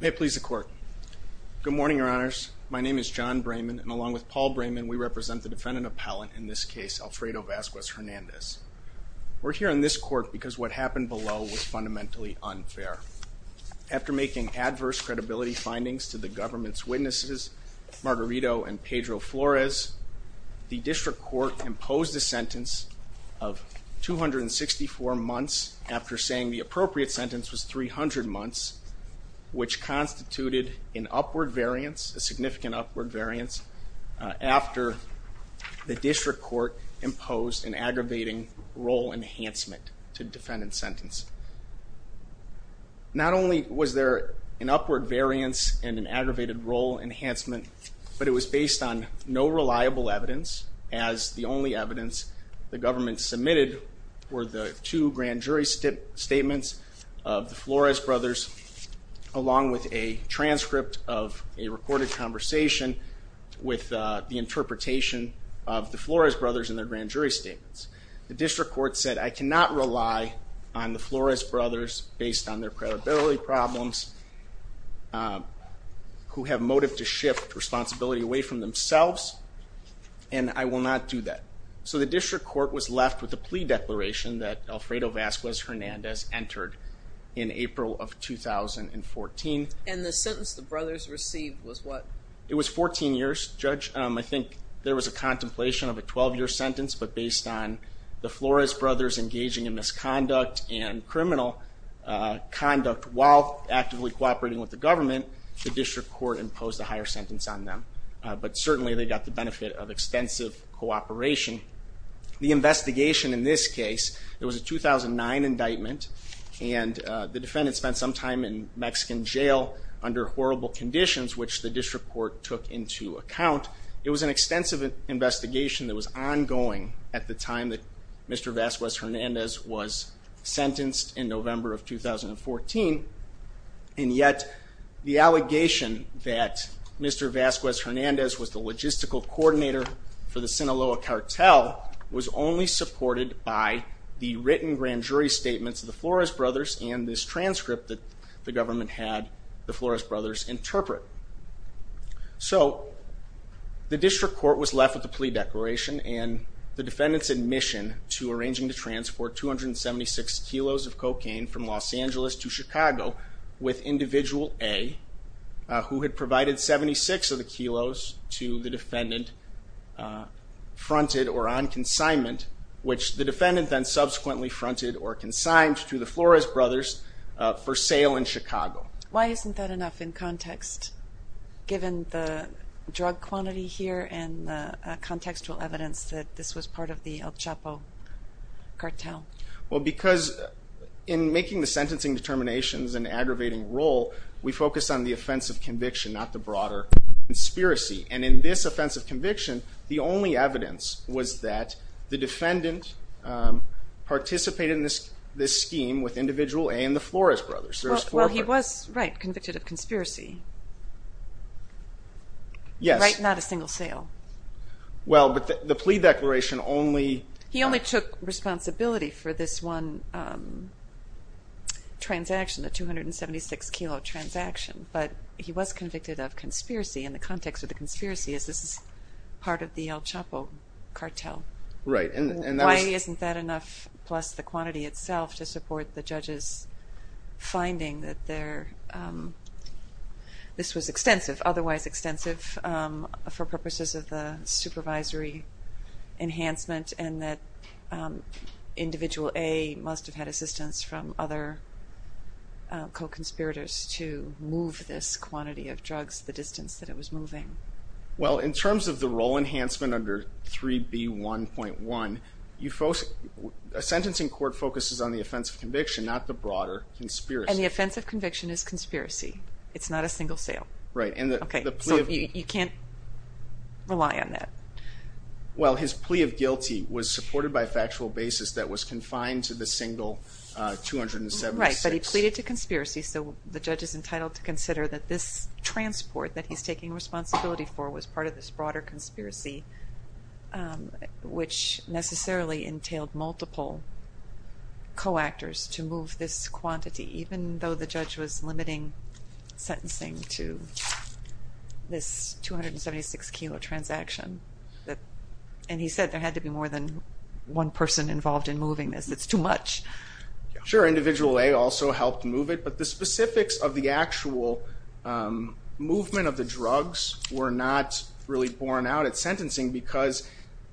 May it please the court. Good morning, your honors. My name is John Brayman and along with Paul Brayman we represent the defendant appellant in this case Alfredo Vasquez-Hernandez. We're here in this court because what happened below was fundamentally unfair. After making adverse credibility findings to the government's witnesses, Margarito and Pedro Flores, the district court imposed a sentence of 264 months after saying the appropriate sentence was 300 months which constituted an upward variance, a significant upward variance, after the district court imposed an aggravating role enhancement to defendant's sentence. Not only was there an upward variance and an aggravated role enhancement but it was based on no reliable evidence as the only evidence the government submitted were the two grand jury statements of the Flores brothers along with a transcript of a recorded conversation with the interpretation of the Flores brothers in their grand jury statements. The district court said I cannot rely on the Flores brothers based on their credibility problems who have motive to shift responsibility away from themselves and I will not do that. So the plea declaration that Alfredo Vasquez-Hernandez entered in April of 2014. And the sentence the brothers received was what? It was 14 years judge. I think there was a contemplation of a 12-year sentence but based on the Flores brothers engaging in misconduct and criminal conduct while actively cooperating with the government, the district court imposed a higher sentence on them but certainly they got the benefit of extensive cooperation. The investigation in this case, it was a 2009 indictment and the defendant spent some time in Mexican jail under horrible conditions which the district court took into account. It was an extensive investigation that was ongoing at the time that Mr. Vasquez-Hernandez was sentenced in November of 2014 and yet the allegation that Mr. Vasquez-Hernandez was the logistical coordinator for the was only supported by the written grand jury statements of the Flores brothers and this transcript that the government had the Flores brothers interpret. So the district court was left with the plea declaration and the defendants admission to arranging to transport 276 kilos of cocaine from Los Angeles to Chicago with individual A who had provided 76 of the kilos to the defendant fronted or on consignment which the defendant then subsequently fronted or consigned to the Flores brothers for sale in Chicago. Why isn't that enough in context given the drug quantity here and contextual evidence that this was part of the El Chapo cartel? Well because in making the sentencing determinations an aggravating role we focus on the offense of conviction not the broader conspiracy and in this offense of conviction the only evidence was that the defendant participated in this scheme with individual A and the Flores brothers. Well he was convicted of conspiracy. Yes. Right, not a single sale. Well but the plea declaration only. He only took responsibility for this one transaction the 276 kilo transaction but he was convicted of conspiracy in the context of the conspiracy as this is part of the El Chapo cartel. Right. Why isn't that enough plus the quantity itself to support the judges finding that they're this was extensive otherwise extensive for purposes of the supervisory enhancement and that individual A must have had assistance from other co-conspirators to move this quantity of drugs the distance that it was moving. Well in terms of the role enhancement under 3b 1.1 you folks a sentencing court focuses on the offense of conviction not the broader conspiracy. And the offense of conviction is conspiracy it's not a single sale. Right. And okay you can't rely on that. Well his plea of guilty was supported by a factual basis that was so the judge is entitled to consider that this transport that he's taking responsibility for was part of this broader conspiracy which necessarily entailed multiple co-actors to move this quantity even though the judge was limiting sentencing to this 276 kilo transaction. And he said there had to be more than one person involved in moving this it's too much. Sure individual A also helped move it but the specifics of the actual movement of the drugs were not really borne out at sentencing because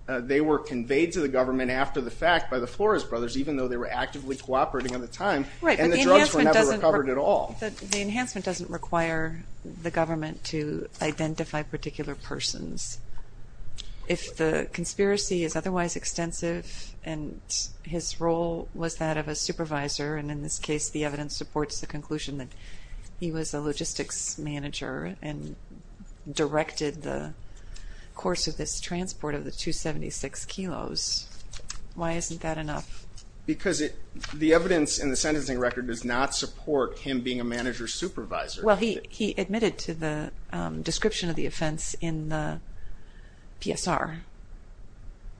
they were conveyed to the government after the fact by the Flores brothers even though they were actively cooperating at the time. Right. And the drugs were never recovered at all. The enhancement doesn't require the government to identify particular persons. If the conspiracy is otherwise extensive and his role was that of a supervisor and in this case the evidence supports the conclusion that he was a logistics manager and directed the course of this transport of the 276 kilos why isn't that enough? Because it the evidence in the sentencing record does not support him being a manager supervisor. Well he admitted to the description of the offense in the PSR.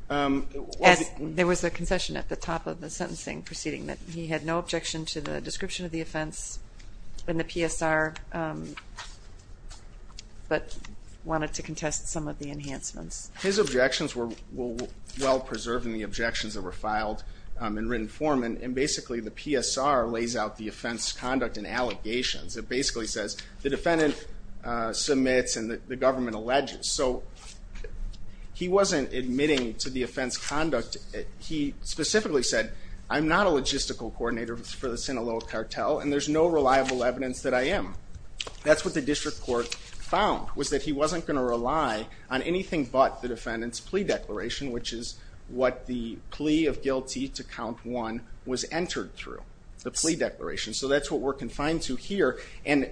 There was a concession at the top of the He had no objection to the description of the offense in the PSR but wanted to contest some of the enhancements. His objections were well preserved in the objections that were filed in written form and basically the PSR lays out the offense conduct and allegations. It basically says the defendant submits and the government alleges. So he wasn't admitting to the offense conduct. He specifically said I'm not a logistical coordinator for the Sinaloa cartel and there's no reliable evidence that I am. That's what the district court found was that he wasn't going to rely on anything but the defendant's plea declaration which is what the plea of guilty to count one was entered through. The plea declaration. So that's what we're confined to here and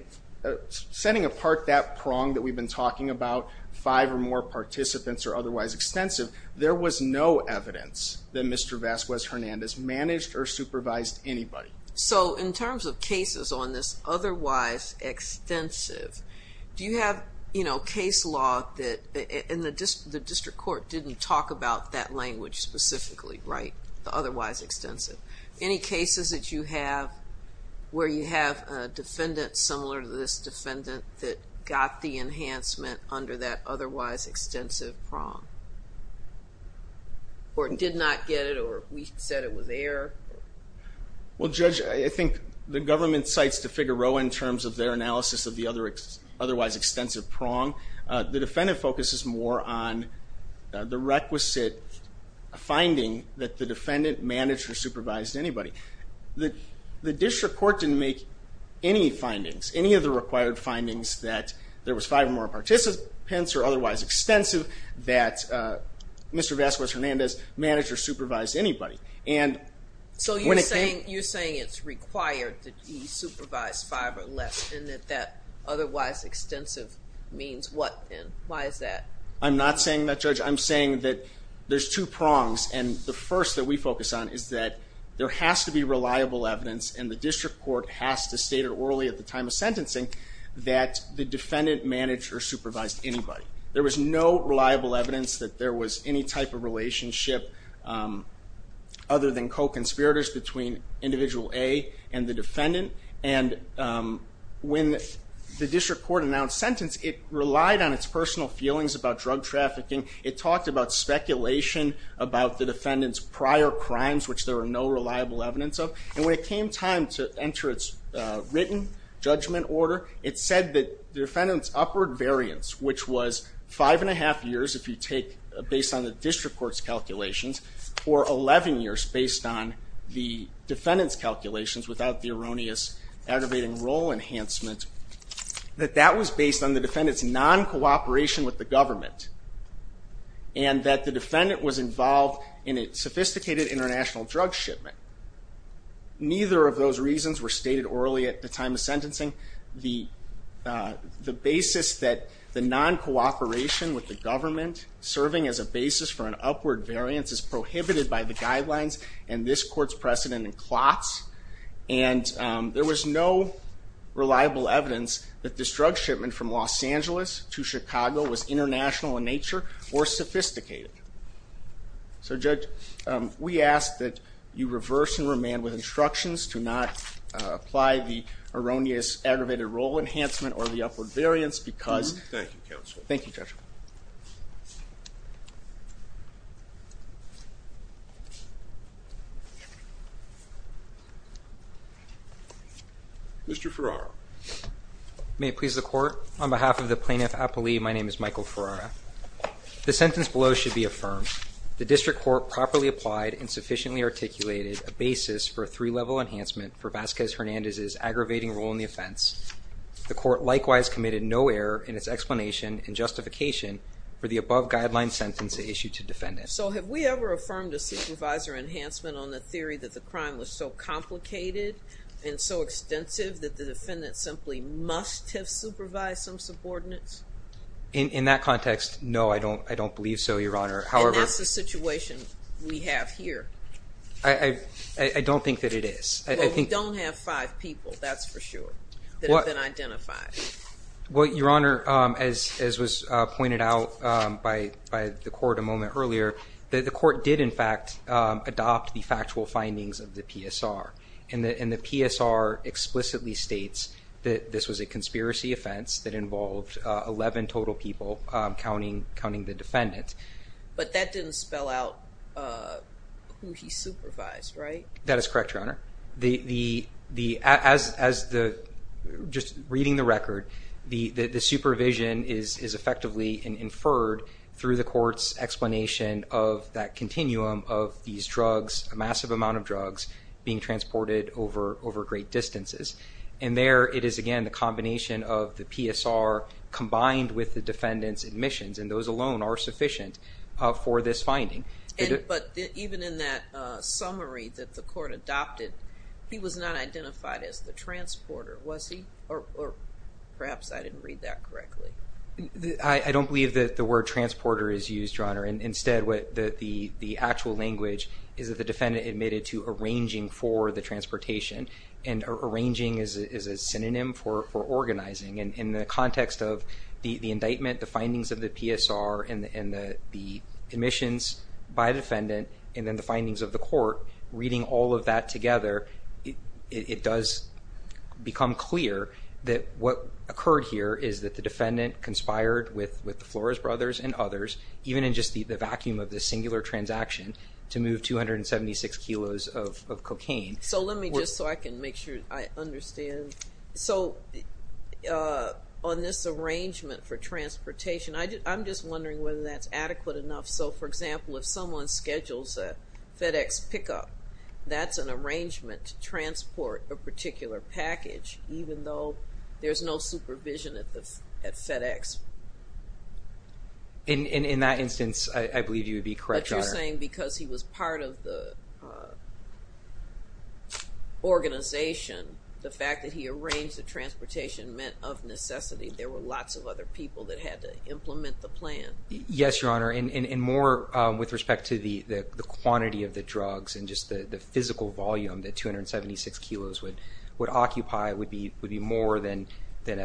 setting apart that prong that we've been talking about five or more participants are otherwise extensive. There was no evidence that Mr. Vasquez Hernandez managed or supervised anybody. So in terms of cases on this otherwise extensive, do you have you know case law that in the district court didn't talk about that language specifically right? The otherwise extensive. Any cases that you have where you have a defendant similar to this defendant that got the or did not get it or we said it was there? Well Judge, I think the government cites DeFigaro in terms of their analysis of the other otherwise extensive prong. The defendant focuses more on the requisite finding that the defendant managed or supervised anybody. The district court didn't make any findings, any of the required findings that there was five or more participants are otherwise extensive that Mr. Vasquez Hernandez managed or supervised anybody. So you're saying it's required that he supervised five or less and that that otherwise extensive means what then? Why is that? I'm not saying that Judge. I'm saying that there's two prongs and the first that we focus on is that there has to be reliable evidence and the district court has to state it at the time of sentencing that the defendant managed or supervised anybody. There was no reliable evidence that there was any type of relationship other than co-conspirators between individual A and the defendant and when the district court announced sentence it relied on its personal feelings about drug trafficking. It talked about speculation about the defendant's prior crimes which there are no reliable evidence of and when it came time to enter its written judgment order it said that the defendant's upward variance which was five and a half years if you take based on the district court's calculations or 11 years based on the defendant's calculations without the erroneous aggravating role enhancement that that was based on the defendant's non cooperation with the government and that the defendant was involved in a sophisticated international drug shipment. Neither of those reasons were stated orally at the time of sentencing. The basis that the non-cooperation with the government serving as a basis for an upward variance is prohibited by the guidelines and this court's precedent and clots and there was no reliable evidence that this drug shipment from Los Angeles to Chicago was international in nature or sophisticated. So judge we ask that you reverse and remand with instructions to not apply the erroneous aggravated role enhancement or the upward variance because. Thank you counsel. Thank you judge. Mr. Ferraro. May it please the court. On behalf of the plaintiff Apolli my name is Michael Ferraro. The sentence below should be affirmed. The district court properly applied and sufficiently articulated a basis for a three-level enhancement for Vasquez Hernandez's aggravating role in the offense. The court likewise committed no error in its explanation and justification for the above guideline sentence issued to defend it. So have we ever affirmed a supervisor enhancement on the theory that the crime was so complicated and so extensive that the defendant simply must have supervised some subordinates? In that context no I don't I don't believe so your honor. However. And that's the situation we have here. I don't think that it is. Well we don't have five people that's for sure that have been identified. Well your honor as was pointed out by the court a moment earlier that the court did in fact adopt the factual findings of the PSR and the PSR explicitly states that this was a 11 total people counting counting the defendant. But that didn't spell out who he supervised right? That is correct your honor. The the the as as the just reading the record the the supervision is is effectively and inferred through the court's explanation of that continuum of these drugs a massive amount of drugs being transported over over great distances. And there it is again the PSR combined with the defendant's admissions and those alone are sufficient for this finding. But even in that summary that the court adopted he was not identified as the transporter was he? Or perhaps I didn't read that correctly. I don't believe that the word transporter is used your honor and instead what the the the actual language is that the defendant admitted to arranging for the transportation and arranging is a synonym for for in the context of the the indictment the findings of the PSR and the admissions by defendant and then the findings of the court reading all of that together it does become clear that what occurred here is that the defendant conspired with with the Flores brothers and others even in just the vacuum of this singular transaction to move 276 kilos of cocaine. So let me just so I can make sure I understand. So on this arrangement for transportation I did I'm just wondering whether that's adequate enough so for example if someone schedules a FedEx pickup that's an arrangement to transport a particular package even though there's no supervision at the FedEx. In that instance I believe you would be correct. But you're saying because he was part of the organization the fact that he arranged the transportation meant of necessity there were lots of other people that had to implement the plan. Yes your honor and more with respect to the the quantity of the drugs and just the the physical volume that 276 kilos would would occupy would be would be more than than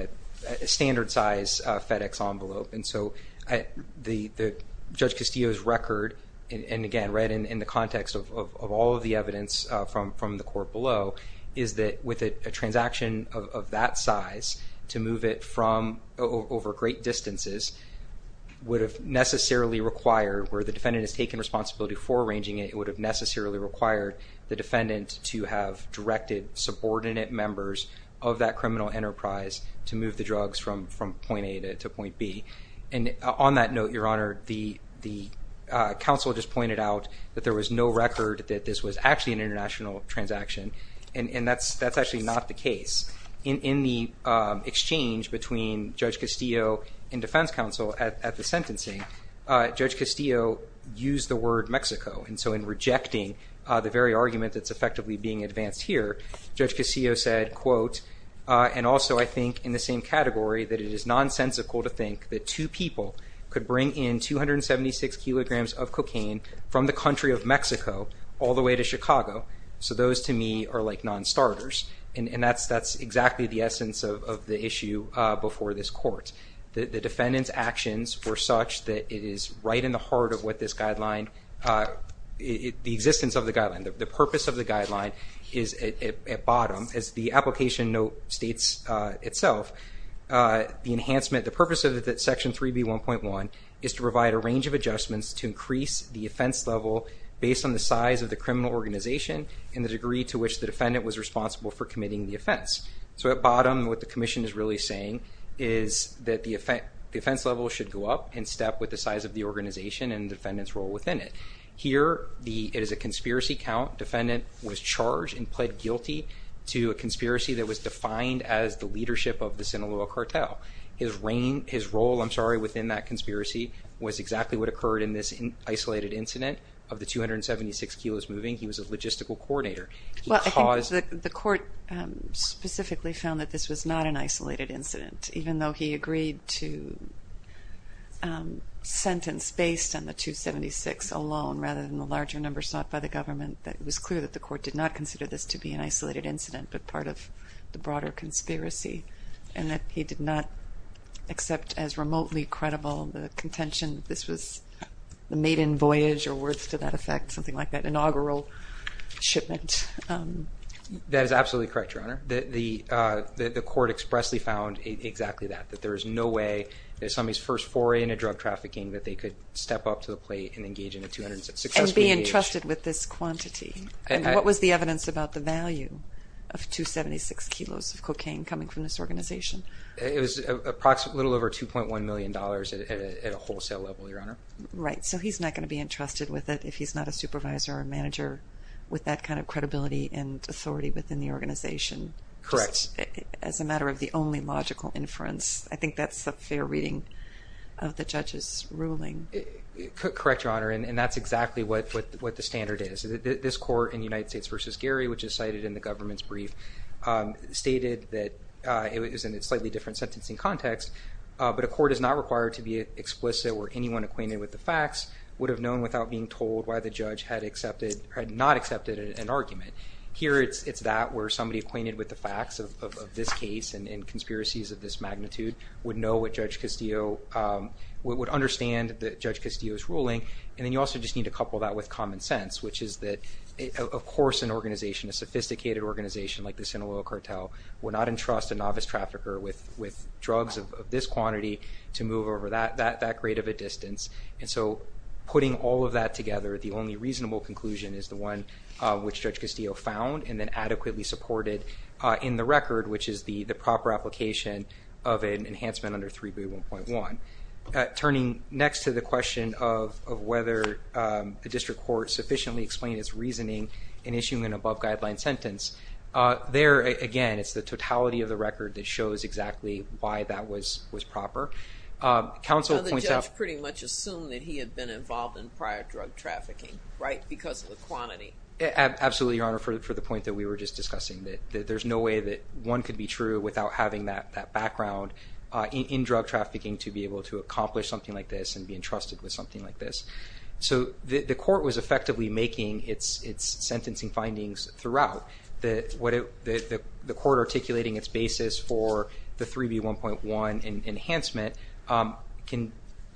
a standard size FedEx envelope and so I the Judge Castillo's and again right in the context of all of the evidence from from the court below is that with a transaction of that size to move it from over great distances would have necessarily required where the defendant has taken responsibility for arranging it would have necessarily required the defendant to have directed subordinate members of that criminal enterprise to move the counsel just pointed out that there was no record that this was actually an international transaction and and that's that's actually not the case. In the exchange between Judge Castillo and Defense Counsel at the sentencing, Judge Castillo used the word Mexico and so in rejecting the very argument that's effectively being advanced here, Judge Castillo said quote and also I think in the same category that it is nonsensical to think that two people could bring in 276 kilograms of cocaine from the country of Mexico all the way to Chicago so those to me are like non-starters and and that's that's exactly the essence of the issue before this court. The defendant's actions were such that it is right in the heart of what this guideline it the existence of the guideline the purpose of the guideline is at bottom as the application note states itself the enhancement the purpose of that section 3b 1.1 is to provide a range of adjustments to increase the offense level based on the size of the criminal organization and the degree to which the defendant was responsible for committing the offense so at bottom what the Commission is really saying is that the effect the offense level should go up and step with the size of the organization and defendants role within it here the it is a conspiracy count defendant was charged and pled guilty to a conspiracy that was defined as the leadership of the Sinaloa cartel his reign his role I'm sorry within that conspiracy was exactly what occurred in this in isolated incident of the 276 kilos moving he was a logistical coordinator because the court specifically found that this was not an isolated incident even though he agreed to sentence based on the 276 alone rather than the larger numbers not by the government that was clear that the court did not consider this to be an isolated incident but part of the broader conspiracy and that he did not except as remotely credible the contention this was the maiden voyage or words to that effect something like that inaugural shipment that is absolutely correct your honor that the the court expressly found exactly that that there is no way there's somebody's first foray into drug trafficking that they could step up to the plate and engage in a two hundred success being trusted with this quantity and what was the evidence about the value of 276 kilos of cocaine coming from this organization it was a little over 2.1 million dollars at a wholesale level your honor right so he's not going to be entrusted with it if he's not a supervisor or manager with that kind of credibility and authority within the organization correct as a matter of the only logical inference I think that's a fair reading of the judge's ruling correct your honor and that's exactly what what the standard is this court in United States versus Gary which is government's brief stated that it was in a slightly different sentencing context but a court is not required to be explicit or anyone acquainted with the facts would have known without being told why the judge had accepted had not accepted an argument here it's it's that where somebody acquainted with the facts of this case and in conspiracies of this magnitude would know what judge Castillo would understand that judge Castillo is ruling and then you also just need to couple that with common sense which is that of course an organization a sophisticated organization like the Sinaloa cartel will not entrust a novice trafficker with with drugs of this quantity to move over that that that great of a distance and so putting all of that together the only reasonable conclusion is the one which judge Castillo found and then adequately supported in the record which is the the proper application of an enhancement under 3b 1.1 turning next to the question of whether a district court sufficiently explained its reasoning in issuing an above-guideline sentence there again it's the totality of the record that shows exactly why that was was proper counsel pretty much assume that he had been involved in prior drug trafficking right because of the quantity absolutely your honor for the point that we were just discussing that there's no way that one could be true without having that background in drug trafficking to be able to accomplish something like this and be entrusted with something like this so the court was effectively making its its sentencing findings throughout that what if the court articulating its basis for the 3b 1.1 and enhancement can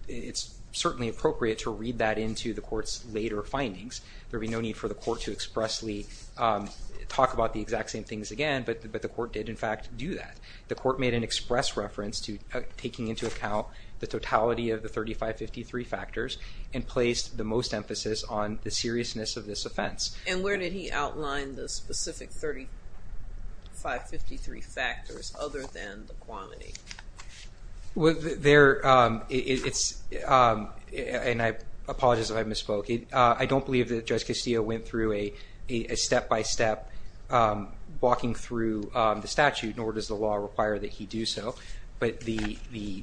it's certainly appropriate to read that into the courts later findings there'll be no need for the court to expressly talk about the exact same things again but but the court did in fact do that the court made an express reference to taking into account the totality of the 3553 factors and placed the most emphasis on the seriousness of this offense and where did he outline the specific 3553 factors other than the quantity well there it's and I apologize if I misspoke it I don't believe that judge Castillo went through a a step by step walking through the statute nor does the law require that he do so but the the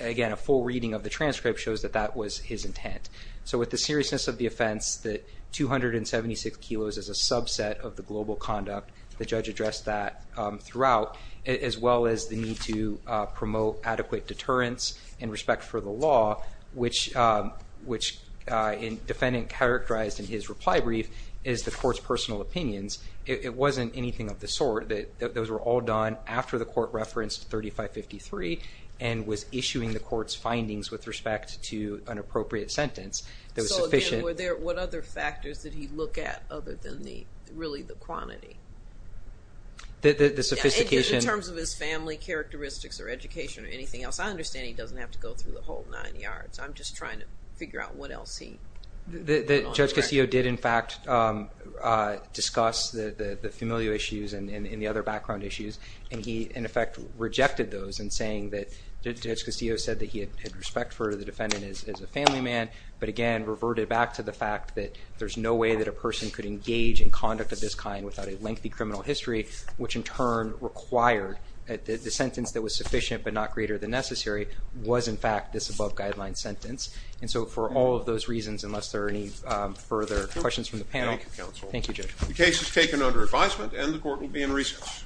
again a full reading of the transcript shows that that was his intent so with the seriousness of the offense that 276 kilos is a subset of the global conduct the judge addressed that throughout as well as the need to promote adequate deterrence in respect for the law which which in defendant characterized in his reply brief is the court's personal opinions it wasn't anything of the sort that those were all done after the court referenced 3553 and was issuing the court's findings with respect to an appropriate sentence that was sufficient what other factors that he look at other than the really the quantity the sophistication in terms of his family characteristics or education or anything else I understand he doesn't have to go through the whole nine yards I'm just trying to figure out what else he the judge Castillo did in fact discuss the the familial issues and in the other background issues and he in those and saying that judge Castillo said that he had respect for the defendant as a family man but again reverted back to the fact that there's no way that a person could engage in conduct of this kind without a lengthy criminal history which in turn required that the sentence that was sufficient but not greater than necessary was in fact this above-guideline sentence and so for all of those reasons unless there are any further questions from the panel the case is taken under advisement and the court will be in recess